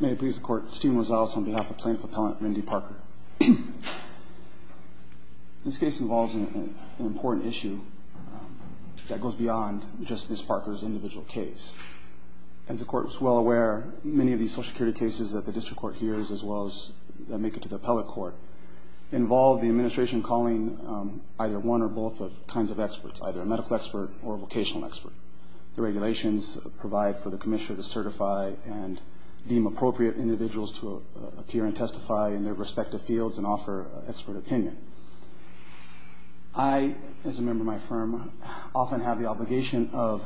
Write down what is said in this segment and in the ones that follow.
May I please the court, Steve Morazos on behalf of plaintiff appellant Rendy Parker. This case involves an important issue that goes beyond just Ms. Parker's individual case. As the court was well aware many of these Social Security cases that the district court hears as well as that make it to the appellate court involve the administration calling either one or both of kinds of experts either a medical expert or a vocational expert. The regulations provide for the appropriate individuals to appear and testify in their respective fields and offer expert opinion. I as a member of my firm often have the obligation of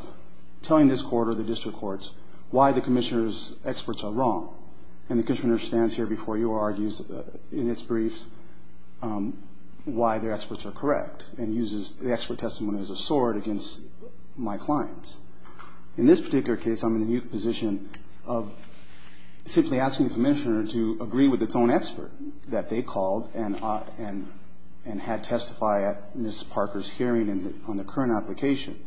telling this court or the district courts why the commissioners experts are wrong and the commissioner stands here before you or argues in its briefs why their experts are correct and uses the expert testimony as a sword against my simply asking the commissioner to agree with its own expert that they called and and and had testified at Ms. Parker's hearing and on the current application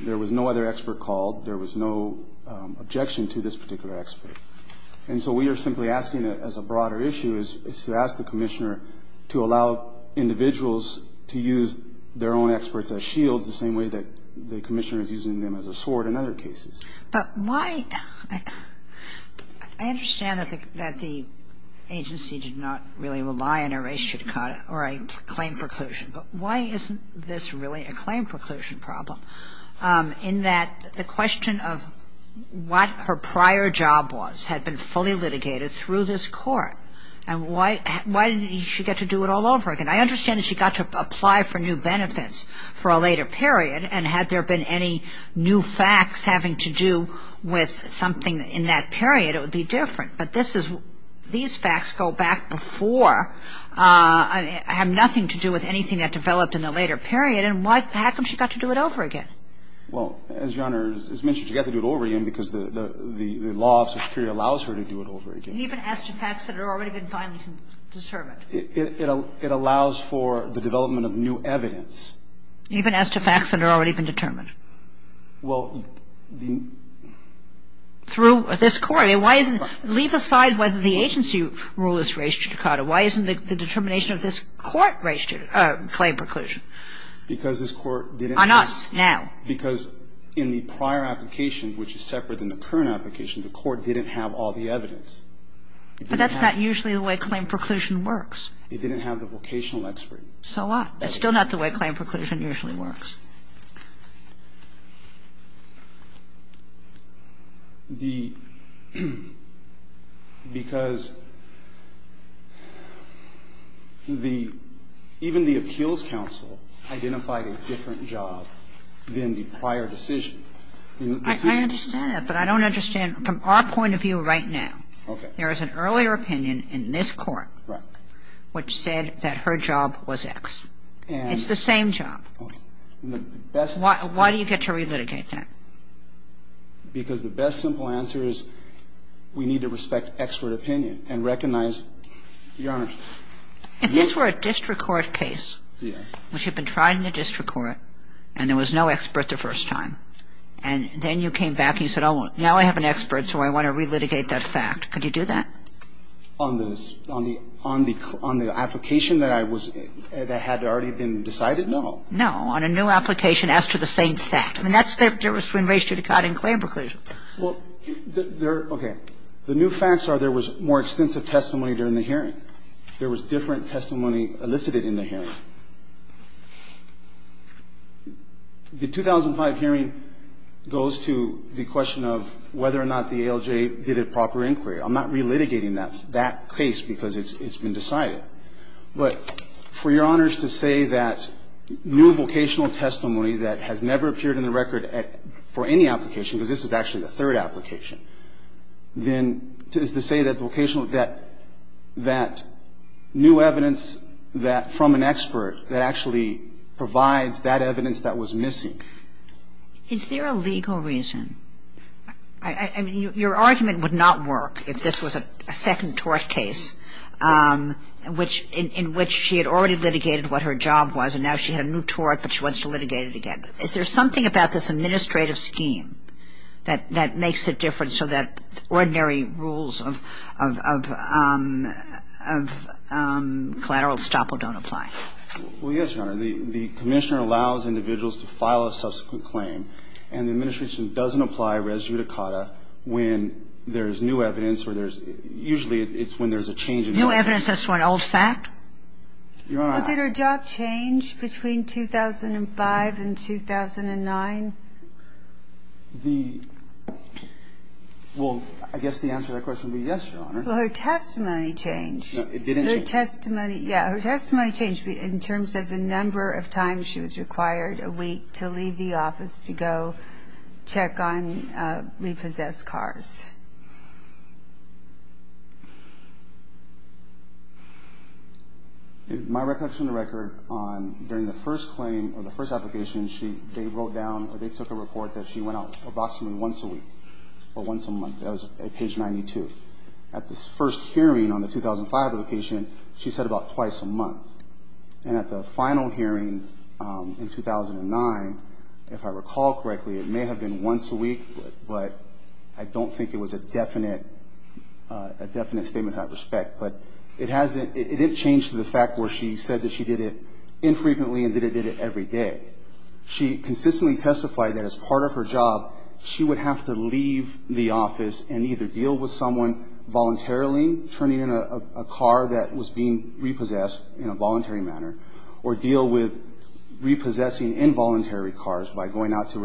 there was no other expert called there was no objection to this particular expert and so we are simply asking it as a broader issue is to ask the commissioner to allow individuals to use their own experts as shields the same way that the commissioner is using them as a sword in other cases. But why I understand that the agency did not really rely on a race to cut or a claim preclusion but why isn't this really a claim preclusion problem in that the question of what her prior job was had been fully litigated through this court and why why did she get to do it all over again? I understand that she got to apply for new benefits in the later period and had there been any new facts having to do with something in that period it would be different but this is these facts go back before I have nothing to do with anything that developed in the later period and why how come she got to do it over again? Well as Your Honor has mentioned she got to do it over again because the law of social security allows her to do it over again. Even as to the facts that are already been determined? Well the. Through this court why isn't leave aside whether the agency rule is race to cut or why isn't the determination of this court race to claim preclusion? Because this court. On us now. Because in the prior application which is separate than the current application the court didn't have all the evidence. But that's not usually the way claim preclusion works. It didn't have the vocational expert. So what? It's still not the way claim preclusion usually works. The. Because the. Even the appeals counsel identified a different job than the prior decision. I understand that but I don't understand from our point of view right now. Okay. There is an earlier opinion in this court. Right. So why is that? Because the best simple answer is we need to respect expert opinion and recognize Your Honor. If this were a district court case. Yes. Which had been tried in a district court and there was no expert the first time. And then you came back and you said oh now I have an expert so I want to re-litigate that fact. Could you do that? On the application that I was, that had already been decided? No. No. On a new application as to the same fact. I mean that's the difference between race to decode and claim preclusion. Well, there, okay. The new facts are there was more extensive testimony during the hearing. There was different testimony elicited in the hearing. The 2005 hearing goes to the question of whether or not the ALJ did a proper inquiry. I'm not re-litigating that case because it's been decided. But for Your Honor's to say that new vocational testimony that has never appeared in the record for any application, because this is actually the third application, then is to say that vocational, that new evidence that from an expert that actually provides that evidence that was missing. Is there a legal reason? I mean your argument would not work if this was a second tort case in which she had already litigated what her job was and now she had a new tort but she wants to litigate it again. Is there something about this administrative scheme that makes it different so that ordinary rules of collateral estoppel don't apply? Well, yes, Your Honor. The commissioner allows individuals to file a subsequent claim and the administration doesn't apply res judicata when there's new evidence or there's, usually it's when there's a change in evidence. New evidence, that's one old fact. Your Honor. Well, did her job change between 2005 and 2009? The, well, I guess the answer to that question would be yes, Your Honor. Well, her testimony changed. No, it didn't change. Her testimony, yeah, her testimony changed in terms of the number of times she was involved in repossessed cars. In my recollection of the record, during the first claim or the first application, they wrote down or they took a report that she went out approximately once a week or once a month. That was at page 92. At the first hearing on the 2005 application, she said about twice a month. And at the final hearing in 2009, if I recall correctly, it may have been once a week, but I don't think it was a definite statement of that respect. But it hasn't, it didn't change to the fact where she said that she did it infrequently and that she did it every day. She consistently testified that as part of her job, she would have to leave the office and either deal with someone voluntarily turning in a car that was being repossessed in a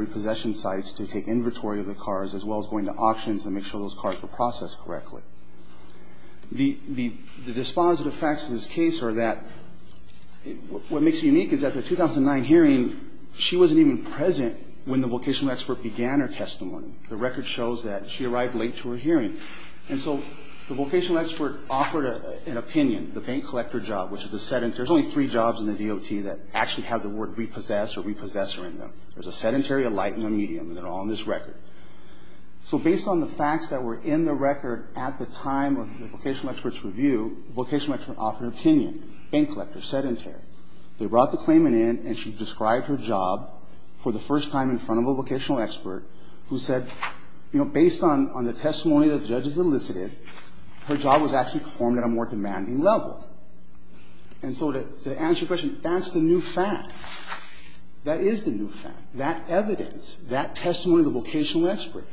possession site to take inventory of the cars as well as going to auctions to make sure those cars were processed correctly. The dispositive facts of this case are that what makes it unique is that the 2009 hearing, she wasn't even present when the vocational expert began her testimony. The record shows that she arrived late to her hearing. And so the vocational expert offered an opinion, the bank collector job, which is a sedentary, there's only three jobs in the DOT that actually have the word repossess or repossessor in them. There's a sedentary, a light and a medium and they're all in this record. So based on the facts that were in the record at the time of the vocational expert's review, the vocational expert offered an opinion, bank collector, sedentary. They brought the claimant in and she described her job for the first time in front of a vocational expert who said, you know, based on the testimony that the judges elicited, her job was actually performed at a more demanding level. And so to answer your question, that's the new fact. That is the new fact. That evidence, that testimony of the vocational expert.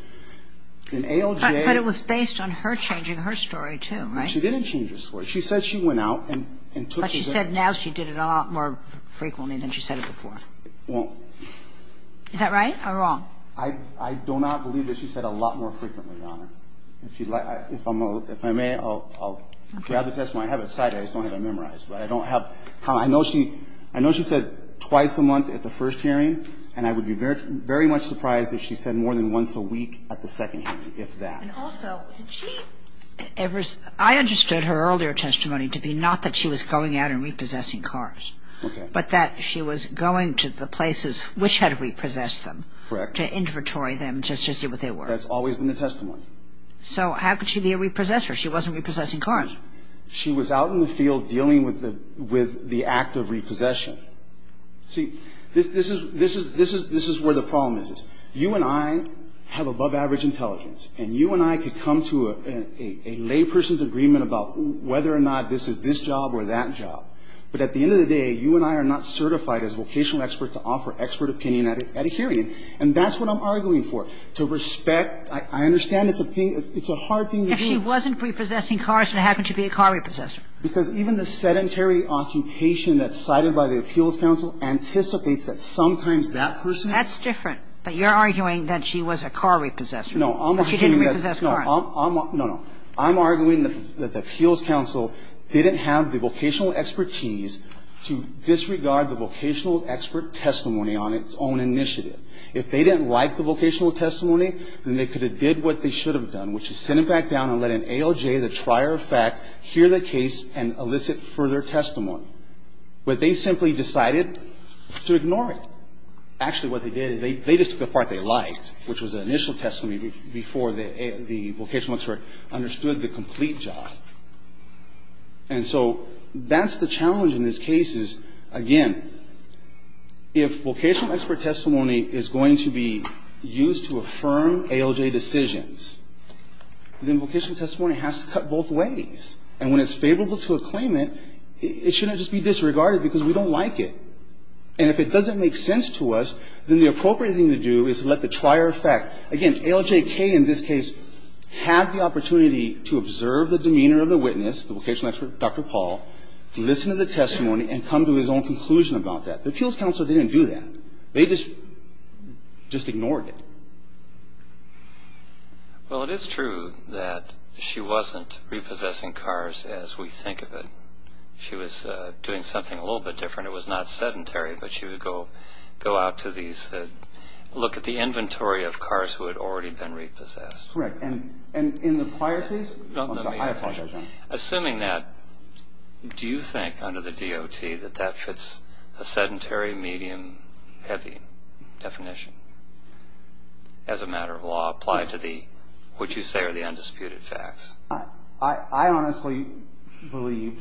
In ALJ's -- But it was based on her changing her story, too, right? She didn't change her story. She said she went out and took the evidence. But she said now she did it a lot more frequently than she said it before. Well -- Is that right or wrong? I do not believe that she said a lot more frequently, Your Honor. If I may, I'll grab the testimony. I have it cited. I just don't have it memorized. But I don't have how -- I know she said twice a month at the first hearing and I would be very much surprised if she said more than once a week at the second hearing, if that. And also, did she ever -- I understood her earlier testimony to be not that she was going out and repossessing cars. Okay. But that she was going to the places which had repossessed them. Correct. To inventory them just to see what they were. That's always been the testimony. So how could she be a repossessor? She wasn't repossessing cars. She was out in the field dealing with the act of repossession. See, this is where the problem is. You and I have above average intelligence. And you and I could come to a layperson's agreement about whether or not this is this job or that job. But at the end of the day, you and I are not certified as vocational experts to offer expert opinion at a hearing. And that's what I'm arguing for. To respect -- I understand it's a thing -- it's a hard thing to do. If she wasn't repossessing cars, she would happen to be a car repossessor. Because even the sedentary occupation that's cited by the appeals counsel anticipates that sometimes that person --- That's different. But you're arguing that she was a car repossessor. No. She didn't repossess cars. No. I'm arguing that the appeals counsel didn't have the vocational expertise to disregard the vocational expert testimony on its own initiative. If they didn't like the vocational testimony, then they could have did what they should have done, which is send them back down and let an ALJ, the trier of fact, hear the case and elicit further testimony. But they simply decided to ignore it. Actually, what they did is they just took apart they liked, which was an initial vocational expert, understood the complete job. And so that's the challenge in this case is, again, if vocational expert testimony is going to be used to affirm ALJ decisions, then vocational testimony has to cut both ways. And when it's favorable to a claimant, it shouldn't just be disregarded because we don't like it. And if it doesn't make sense to us, then the appropriate thing to do is let the have the opportunity to observe the demeanor of the witness, the vocational expert, Dr. Paul, listen to the testimony, and come to his own conclusion about that. The appeals counsel didn't do that. They just ignored it. Well, it is true that she wasn't repossessing cars as we think of it. She was doing something a little bit different. It was not sedentary, but she would go out to these, look at the inventory of cars who had already been repossessed. Correct. And in the prior case? I apologize, Your Honor. Assuming that, do you think under the DOT that that fits a sedentary, medium, heavy definition as a matter of law applied to the, what you say are the undisputed facts? I honestly believe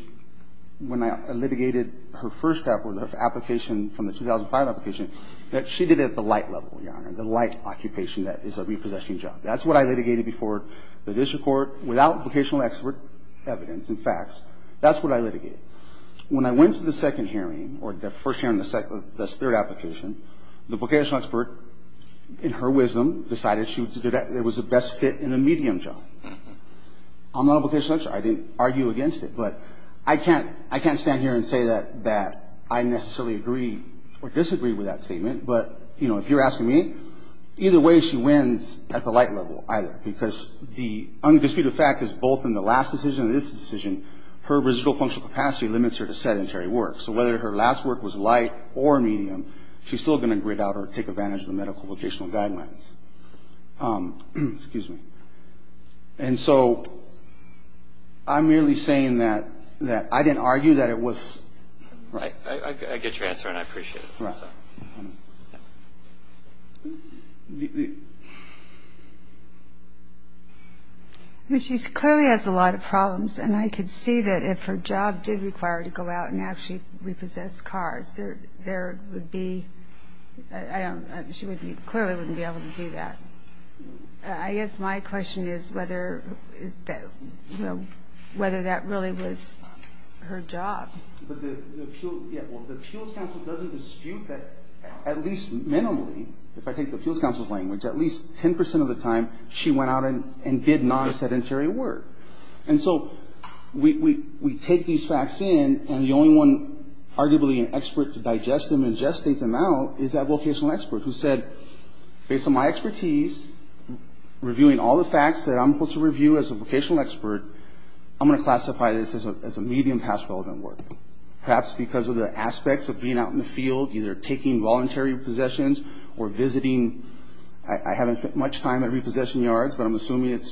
when I litigated her first application from the 2005 application that she did it at the light level, Your Honor, the light occupation that is a without vocational expert evidence and facts. That's what I litigated. When I went to the second hearing, or the first hearing of the third application, the vocational expert, in her wisdom, decided that it was the best fit in a medium job. I'm not a vocational expert. I didn't argue against it, but I can't stand here and say that I necessarily agree or disagree with that statement, but, you know, if you're asking me, either way she wins at the light level, either, because the undisputed fact is both in the last decision and this decision, her residual functional capacity limits her to sedentary work. So whether her last work was light or medium, she's still going to grid out or take advantage of the medical vocational guidelines. Excuse me. And so I'm merely saying that I didn't argue that it was. I get your answer, and I appreciate it. She clearly has a lot of problems, and I can see that if her job did require her to go out and actually repossess cars, there would be, she clearly wouldn't be able to do that. I guess my question is whether that really was her job. The appeals counsel doesn't dispute that at least minimally, if I take the appeals counsel's language, at least 10 percent of the time she went out and did non-sedentary work. And so we take these facts in, and the only one arguably an expert to digest them and gestate them out is that vocational expert who said, based on my expertise, reviewing all the facts that I'm supposed to review as a vocational expert, I'm going to be able to do that, perhaps because of the aspects of being out in the field, either taking voluntary possessions or visiting. I haven't spent much time at repossession yards, but I'm assuming it's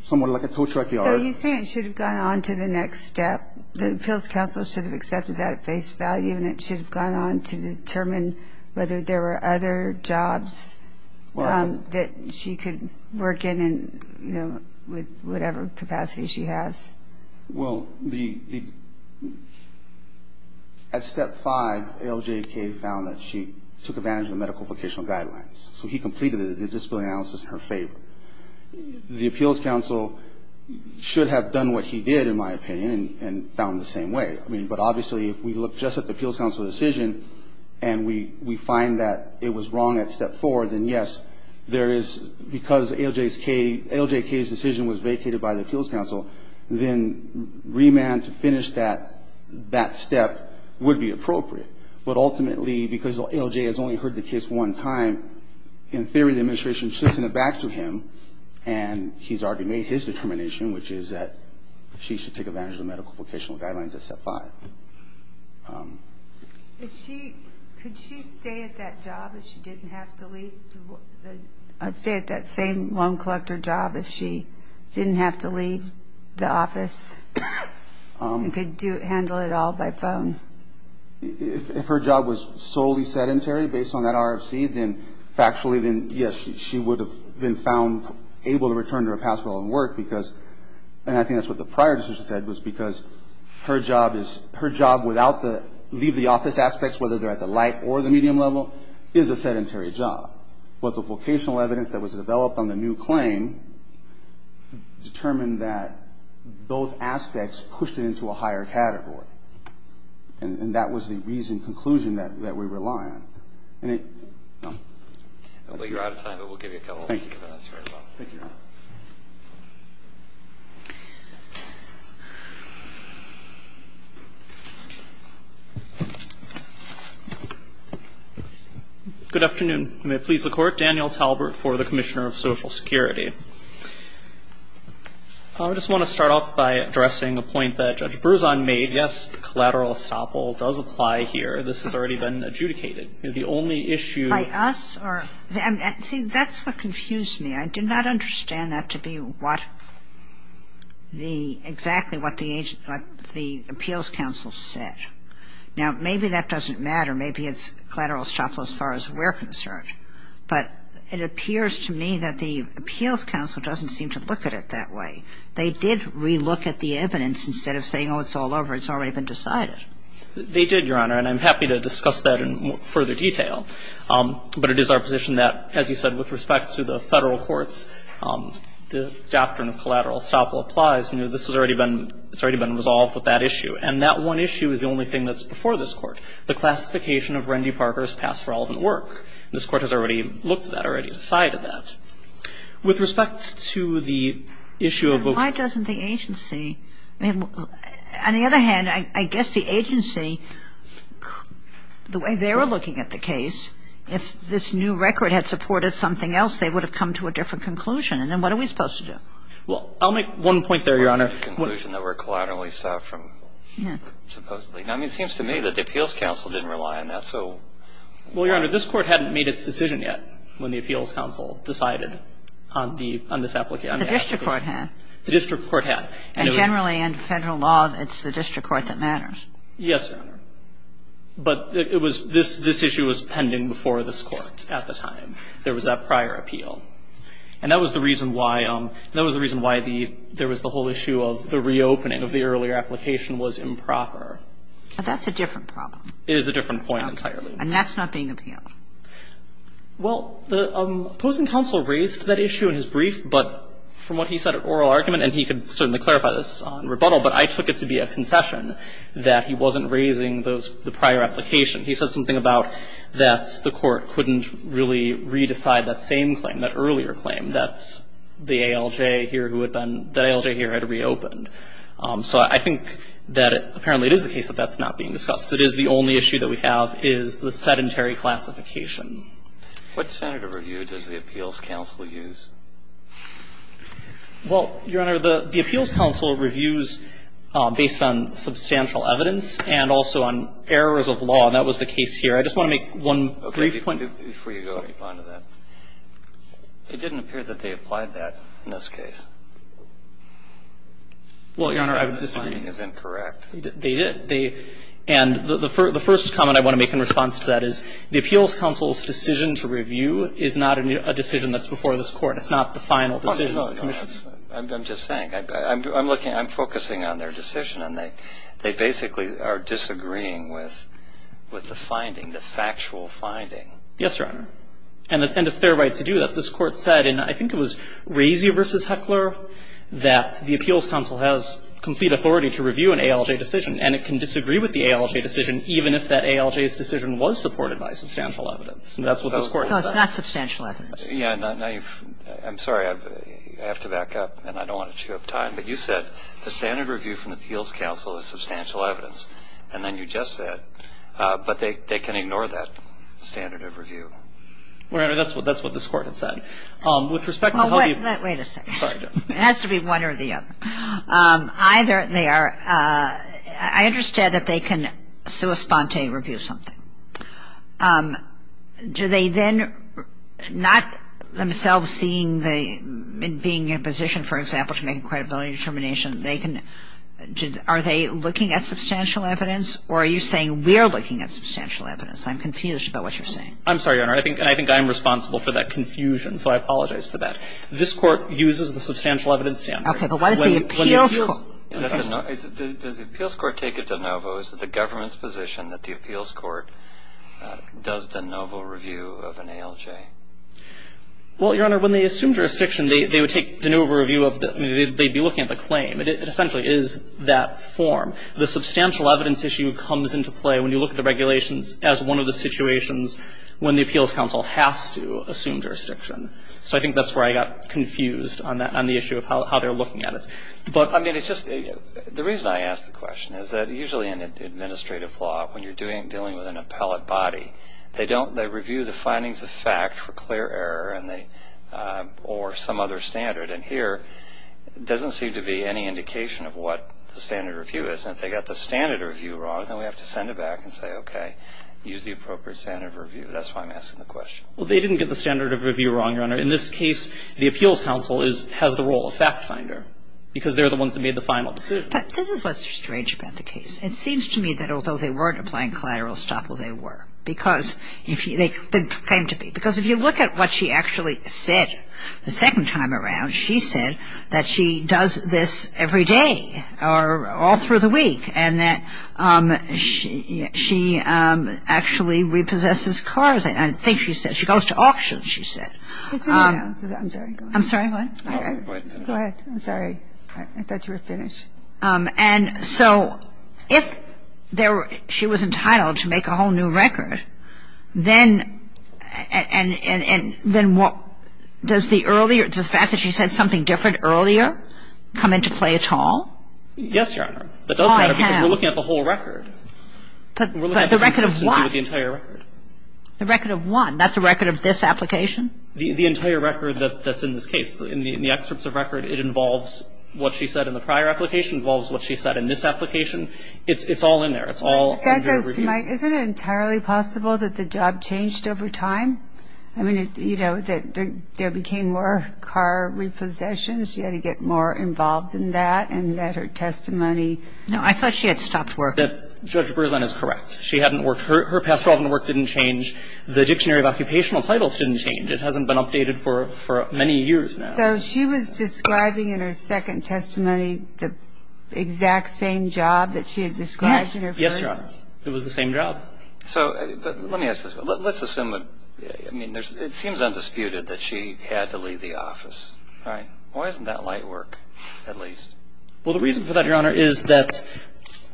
somewhat like a tow truck yard. So you're saying it should have gone on to the next step. The appeals counsel should have accepted that at face value, and it should have gone on to determine whether there were other jobs that she could work in with whatever capacity she has. Well, at step five, LJK found that she took advantage of the medical vocational guidelines. So he completed the disability analysis in her favor. The appeals counsel should have done what he did, in my opinion, and found the same way. But obviously, if we look just at the appeals counsel decision and we find that it was wrong at step four, then yes, there is, because LJK's decision was vacated by the appeals counsel, then remand to finish that step would be appropriate. But ultimately, because LJ has only heard the case one time, in theory, the administration should send it back to him, and he's already made his determination, which is that she should take advantage of the medical vocational guidelines at step five. Could she stay at that job if she didn't have to leave? Stay at that same loan collector job if she didn't have to leave the office and could handle it all by phone? If her job was solely sedentary based on that RFC, then factually, yes, she would have been found able to return to her past role and work, because, and I think that's what the prior decision said, was because her job is, her job without the leave the office aspects, whether they're at the light or the medium level, is a sedentary job. But the vocational evidence that was developed on the new claim determined that those aspects pushed it into a higher category. And that was the reason, the conclusion that we rely on. Well, you're out of time, but we'll give you a couple of minutes. Thank you. Good afternoon. May it please the Court. Daniel Talbert for the Commissioner of Social Security. I just want to start off by addressing a point that Judge Sotomayor has made, which is that the appeals council is not the only agency where this has already been adjudicated. The only issue By us? See, that's what confused me. I did not understand that to be what the exactly what the appeals council said. Now, maybe that doesn't matter. Maybe it's collateral estoppel as far as we're concerned. But it appears to me that the appeals council doesn't seem to look at it that way. They did relook at the evidence instead of saying, oh, it's all over, it's already been decided. They did, Your Honor, and I'm happy to discuss that in further detail. But it is our position that, as you said, with respect to the Federal courts, the doctrine of collateral estoppel applies. You know, this has already been, it's already been resolved with that issue. And that one issue is the only thing that's before this Court, the classification of Randy Parker's past relevant work. This Court has already looked at that, already decided that. With respect to the issue Why doesn't the agency, I mean, on the other hand, I guess the agency, the way they were looking at the case, if this new record had supported something else, they would have come to a different conclusion. And then what are we supposed to do? Well, I'll make one point there, Your Honor. The conclusion that we're collateral estoppel from. Yeah. Supposedly. I mean, it seems to me that the appeals council didn't rely on that, so. Well, Your Honor, this Court hadn't made its decision yet when the appeals council decided on the, on this application. The district court had. The district court had. And generally under Federal law, it's the district court that matters. Yes, Your Honor. But it was, this issue was pending before this Court at the time. There was that prior appeal. And that was the reason why, and that was the reason why the, there was the whole issue of the reopening of the earlier application was improper. But that's a different problem. It is a different point entirely. And that's not being appealed. Well, the opposing counsel raised that issue in his brief, but from what he said at oral argument, and he could certainly clarify this on rebuttal, but I took it to be a concession that he wasn't raising those, the prior application. He said something about that the Court couldn't really re-decide that same claim, that earlier claim, that's the ALJ here who had been, that ALJ here had reopened. So I think that apparently it is the case that that's not being discussed. It is the only issue that we have is the sedentary classification. What standard of review does the appeals counsel use? Well, Your Honor, the appeals counsel reviews based on substantial evidence and also on errors of law. And that was the case here. I just want to make one brief point. Okay. Before you go, I'll keep on to that. It didn't appear that they applied that in this case. Well, Your Honor, I would disagree. Is incorrect. They did. And the first comment I want to make in response to that is the appeals counsel's decision to review is not a decision that's before this Court. It's not the final decision of the commission. I'm just saying. I'm looking, I'm focusing on their decision, and they basically are disagreeing with the finding, the factual finding. Yes, Your Honor. And it's their right to do that. This Court said, and I think it was Razy v. Heckler, that the appeals counsel has complete authority to review an ALJ decision, and it can disagree with the ALJ decision, even if that ALJ's decision was supported by substantial evidence. And that's what this Court has said. No, it's not substantial evidence. Yeah. I'm sorry. I have to back up, and I don't want to chew up time. But you said the standard review from the appeals counsel is substantial evidence. And then you just said, but they can ignore that standard of review. Well, Your Honor, that's what this Court had said. With respect to how the ---- Wait a second. Sorry, Judge. It has to be one or the other. Either they are ---- I understand that they can sua sponte review something. Do they then not themselves seeing the ---- being in a position, for example, to make a credibility determination, they can ---- are they looking at substantial evidence, or are you saying we're looking at substantial evidence? I'm confused about what you're saying. I'm sorry, Your Honor. I think I'm responsible for that confusion, so I apologize for that. This Court uses the substantial evidence standard. Okay. But why does the appeals ---- Does the appeals court take a de novo? Is it the government's position that the appeals court does de novo review of an ALJ? Well, Your Honor, when they assume jurisdiction, they would take de novo review of the ---- they would be looking at the claim. It essentially is that form. The substantial evidence issue comes into play when you look at the regulations as one of the situations when the appeals counsel has to assume jurisdiction. So I think that's where I got confused on the issue of how they're looking at it. But ---- I mean, it's just ---- the reason I ask the question is that usually in an administrative law, when you're dealing with an appellate body, they don't ---- they review the findings of fact for clear error and they ---- or some other standard. And here it doesn't seem to be any indication of what the standard review is. And if they got the standard review wrong, then we have to send it back and say, okay, use the appropriate standard review. That's why I'm asking the question. Well, they didn't get the standard review wrong, Your Honor. In this case, the appeals counsel is ---- has the role of fact finder because they're the ones that made the final decision. But this is what's strange about the case. It seems to me that although they weren't applying collateral estoppel, they were. Because if you ---- they claim to be. Because if you look at what she actually said the second time around, she said that she does this every day or all through the week and that she actually repossesses cars, I think she said. She goes to auctions, she said. I'm sorry. Go ahead. I'm sorry. I thought you were finished. And so if there were ---- she was entitled to make a whole new record, then ---- and then what ---- does the earlier ---- does the fact that she said something different earlier come into play at all? Yes, Your Honor. Oh, I have. That does matter because we're looking at the whole record. But the record of what? The record of one. That's the record of this application? The entire record that's in this case. In the excerpts of record, it involves what she said in the prior application. It involves what she said in this application. It's all in there. It's all under review. Isn't it entirely possible that the job changed over time? I mean, you know, that there became more car repossessions. She had to get more involved in that and that her testimony ---- No, I thought she had stopped working. Judge Breslin is correct. She hadn't worked. Her past relevant work didn't change. The dictionary of occupational titles didn't change. It hasn't been updated for many years now. So she was describing in her second testimony the exact same job that she had described in her first? Yes, Your Honor. It was the same job. So let me ask this. Let's assume that ---- I mean, it seems undisputed that she had to leave the office, right? Why isn't that light work, at least? Well, the reason for that, Your Honor, is that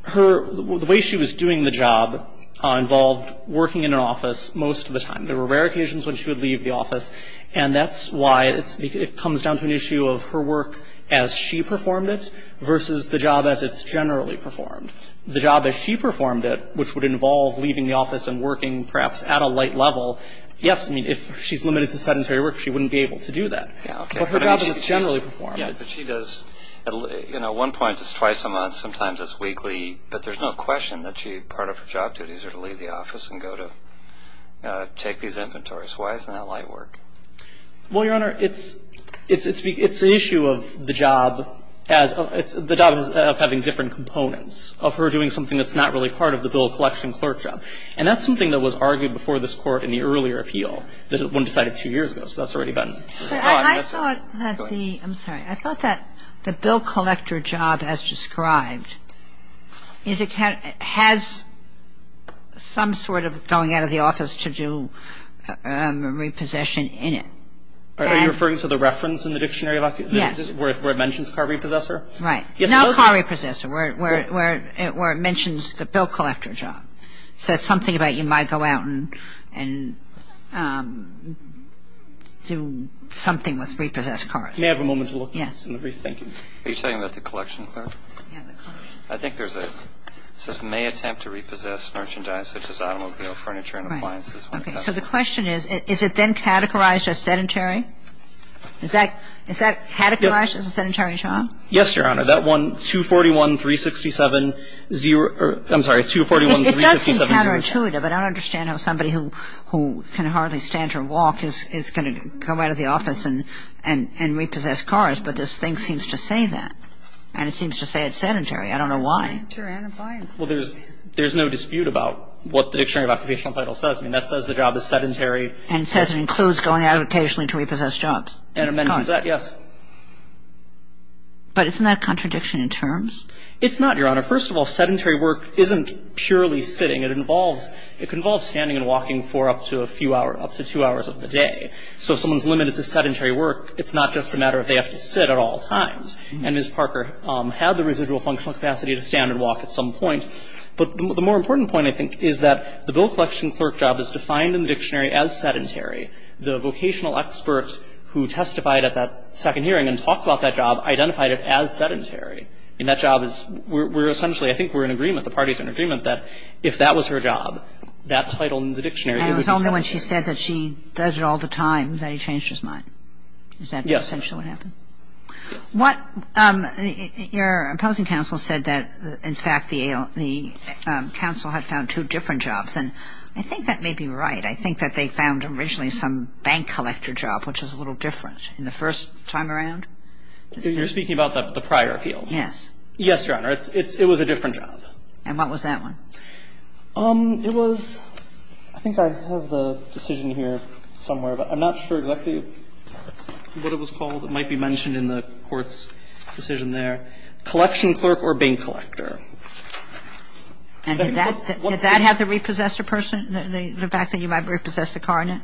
her ---- the way she was doing the job involved working in an office most of the time. There were rare occasions when she would leave the office, and that's why it comes down to an issue of her work as she performed it versus the job as it's generally performed. The job as she performed it, which would involve leaving the office and working perhaps at a light level, yes, I mean, if she's limited to sedentary work, she wouldn't be able to do that. But her job as it's generally performed ---- Yes. But she does ---- you know, at one point it's twice a month, sometimes it's weekly, but there's no question that part of her job duties are to leave the office and go to take these inventories. Why isn't that light work? Well, Your Honor, it's an issue of the job as ---- the job of having different components, of her doing something that's not really part of the bill of collection clerk job. And that's something that was argued before this Court in the earlier appeal, that it wasn't decided two years ago, so that's already been ---- I thought that the ---- I'm sorry. I thought that the bill collector job as described has some sort of going out of the office to do repossession in it. Are you referring to the reference in the dictionary where it mentions car repossessor? Right. No car repossessor, where it mentions the bill collector job. I'm sorry. It says something about you might go out and do something with repossessed cars. May I have a moment to look at this? Yes. Thank you. Are you talking about the collection clerk? Yeah, the collection clerk. I think there's a ---- it says may attempt to repossess merchandise such as automobile furniture and appliances. Right. Okay. So the question is, is it then categorized as sedentary? Is that categorized as a sedentary job? Yes, Your Honor. That one, 241-367-0 ---- I'm sorry, 241-367-0. It does seem counterintuitive. I don't understand how somebody who can hardly stand to walk is going to come out of the office and repossess cars, but this thing seems to say that. And it seems to say it's sedentary. I don't know why. Well, there's no dispute about what the dictionary of occupational title says. I mean, that says the job is sedentary. And it says it includes going out occasionally to repossess jobs. And it mentions that, yes. But isn't that a contradiction in terms? It's not, Your Honor. First of all, sedentary work isn't purely sitting. It involves ---- it involves standing and walking for up to a few hours, up to two hours of the day. So if someone's limited to sedentary work, it's not just a matter of they have to sit at all times. And Ms. Parker had the residual functional capacity to stand and walk at some point. But the more important point, I think, is that the bill collection clerk job is defined in the dictionary as sedentary. The vocational expert who testified at that second hearing and talked about that job identified it as sedentary. And that job is ---- we're essentially, I think we're in agreement, the party's in agreement that if that was her job, that title in the dictionary would be sedentary. And it was only when she said that she does it all the time that he changed his mind. Yes. Is that essentially what happened? Yes. Your opposing counsel said that, in fact, the counsel had found two different jobs. And I think that may be right. I think that they found originally some bank collector job, which was a little different in the first time around. You're speaking about the prior appeal? Yes. Yes, Your Honor. It was a different job. And what was that one? It was ---- I think I have the decision here somewhere, but I'm not sure exactly what it was called. It might be mentioned in the Court's decision there. Collection clerk or bank collector. And did that have to repossess a person? The fact that you might repossess the carnet?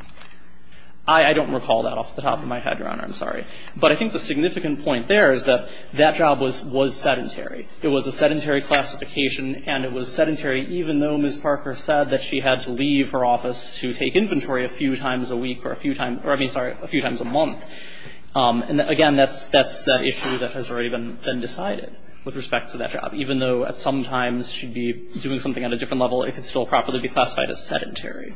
I don't recall that off the top of my head, Your Honor. I'm sorry. But I think the significant point there is that that job was sedentary. It was a sedentary classification, and it was sedentary even though Ms. Parker said that she had to leave her office to take inventory a few times a week or a few times or, I mean, sorry, a few times a month. And, again, that's the issue that has already been decided with respect to that job. Even though at some times she'd be doing something at a different level, it could still properly be classified as sedentary.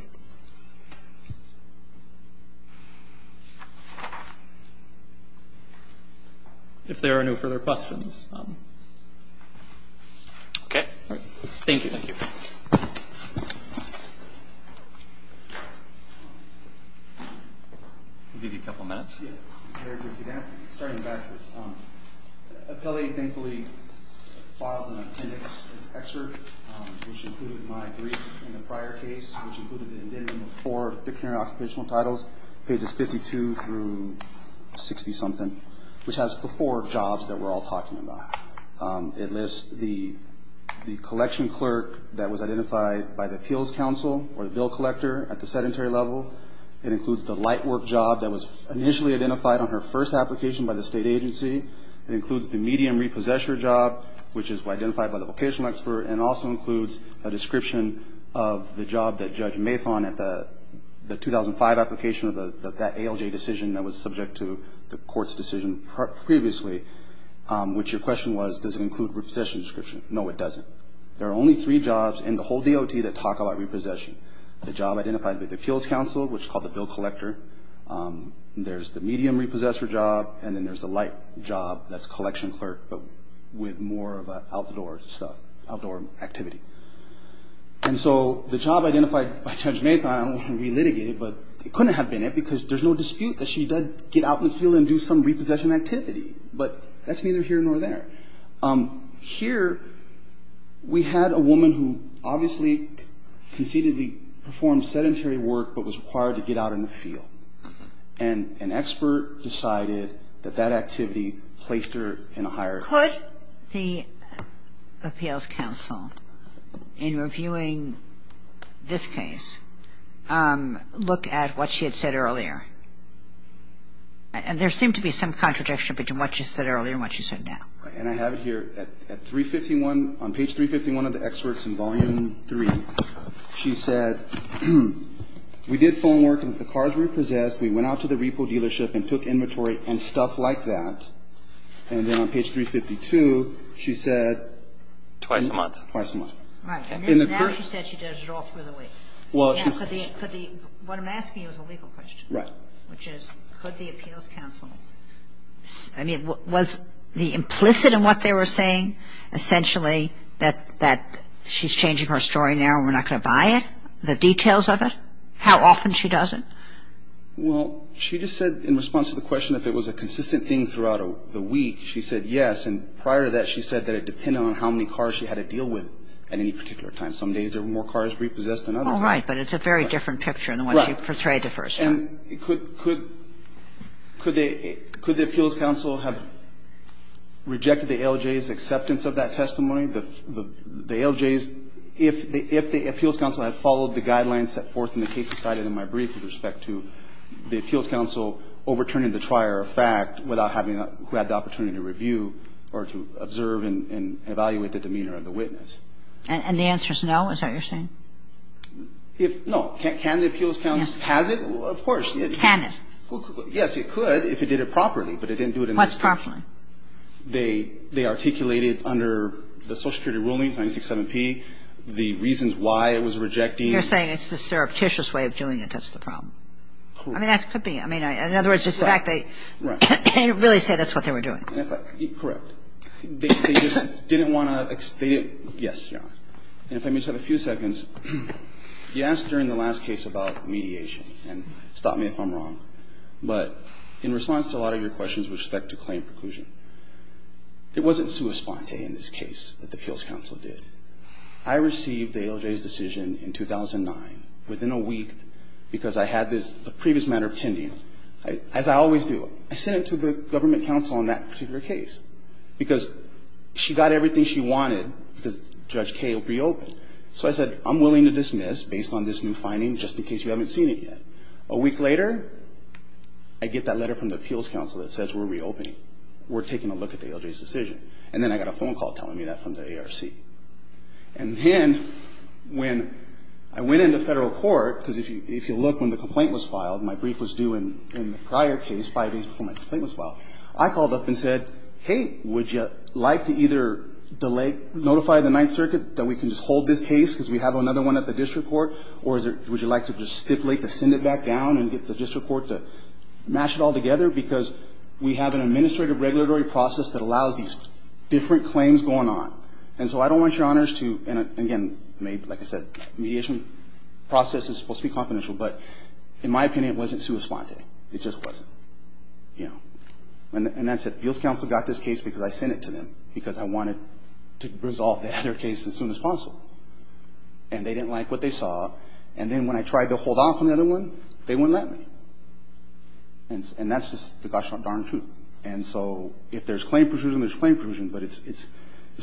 If there are no further questions. Thank you. Thank you. We'll give you a couple minutes. Starting back with appellee thankfully filed an appendix, an excerpt, which included my brief in the prior case, which included the indentment of four dictionary occupational titles, pages 52 through 60-something, which has the four jobs that we're all talking about. It lists the collection clerk that was identified by the appeals council or the bill collector at the sedentary level. It includes the light work job that was initially identified on her first application by the state agency. It includes the medium repossessor job, which is identified by the vocational expert, and also includes a description of the job that Judge Mathon at the 2005 application of that ALJ decision that was subject to the court's decision previously, which your question was, does it include repossession description? No, it doesn't. There are only three jobs in the whole DOT that talk about repossession. The job identified by the appeals council, which is called the bill collector. There's the medium repossessor job, and then there's the light job that's collection clerk, but with more of an outdoor stuff, outdoor activity. And so the job identified by Judge Mathon will be litigated, but it couldn't have been it because there's no dispute that she did get out in the field and do some repossession activity, but that's neither here nor there. Here, we had a woman who obviously concededly performed sedentary work, but was required to get out in the field. And an expert decided that that activity placed her in a higher position. Could the appeals council, in reviewing this case, look at what she had said earlier? And there seemed to be some contradiction between what she said earlier and what she said now. And I have it here. At 351, on page 351 of the experts in volume 3, she said, we did phone work, and the cars were repossessed. We went out to the repo dealership and took inventory and stuff like that. And then on page 352, she said twice a month. Twice a month. Right. And now she says she does it all through the week. Well, she says. What I'm asking you is a legal question. Right. I mean, was the implicit in what they were saying essentially that she's changing her story now and we're not going to buy it, the details of it? How often she does it? Well, she just said in response to the question if it was a consistent thing throughout the week, she said yes. And prior to that, she said that it depended on how many cars she had to deal with at any particular time. Some days there were more cars repossessed than others. Right. But it's a very different picture than the one she portrayed the first time. Right. Well, could the appeals counsel have rejected the LJ's acceptance of that testimony? The LJ's, if the appeals counsel had followed the guidelines set forth in the case decided in my brief with respect to the appeals counsel overturning the trier of fact without having to grab the opportunity to review or to observe and evaluate the demeanor of the witness? And the answer is no? Is that what you're saying? No. Can the appeals counsel? Has it? Well, of course. Can it? Yes, it could if it did it properly, but it didn't do it in this case. What's properly? They articulated under the Social Security rulings, 967P, the reasons why it was rejecting. You're saying it's the surreptitious way of doing it that's the problem. I mean, that could be. I mean, in other words, it's the fact they didn't really say that's what they were doing. Correct. They just didn't want to explain it. Yes, Your Honor. And if I may just have a few seconds. You asked during the last case about mediation, and stop me if I'm wrong, but in response to a lot of your questions with respect to claim preclusion, it wasn't sua sponte in this case that the appeals counsel did. I received the ALJ's decision in 2009 within a week because I had this previous matter pending. As I always do, I sent it to the government counsel on that particular case because she got everything she wanted because Judge Kaye reopened. So I said, I'm willing to dismiss based on this new finding just in case you haven't seen it yet. A week later, I get that letter from the appeals counsel that says we're reopening. We're taking a look at the ALJ's decision. And then I got a phone call telling me that from the ARC. And then when I went into federal court, because if you look when the complaint was filed, my brief was due in the prior case five days before my complaint was filed. I called up and said, hey, would you like to either delay, notify the Ninth Circuit that we can just hold this case because we have another one at the district court? Or would you like to just stipulate to send it back down and get the district court to match it all together? Because we have an administrative regulatory process that allows these different claims going on. And so I don't want your honors to, again, like I said, mediation process is supposed to be confidential. But in my opinion, it wasn't sua sponte. It just wasn't. And that's it. Appeals counsel got this case because I sent it to them because I wanted to resolve the case as soon as possible. And they didn't like what they saw. And then when I tried to hold off on the other one, they wouldn't let me. And that's just the gosh darn truth. And so if there's claim perjury, there's claim perjury. But it's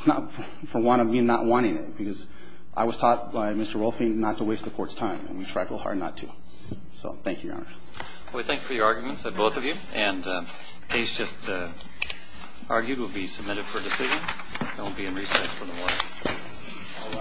not for one of me not wanting it, because I was taught by Mr. Rolfing not to waste the court's time. And we tried real hard not to. So thank you, Your Honor. We thank you for your arguments, both of you. And the case just argued will be submitted for decision. I won't be in recess for the morning. All rise.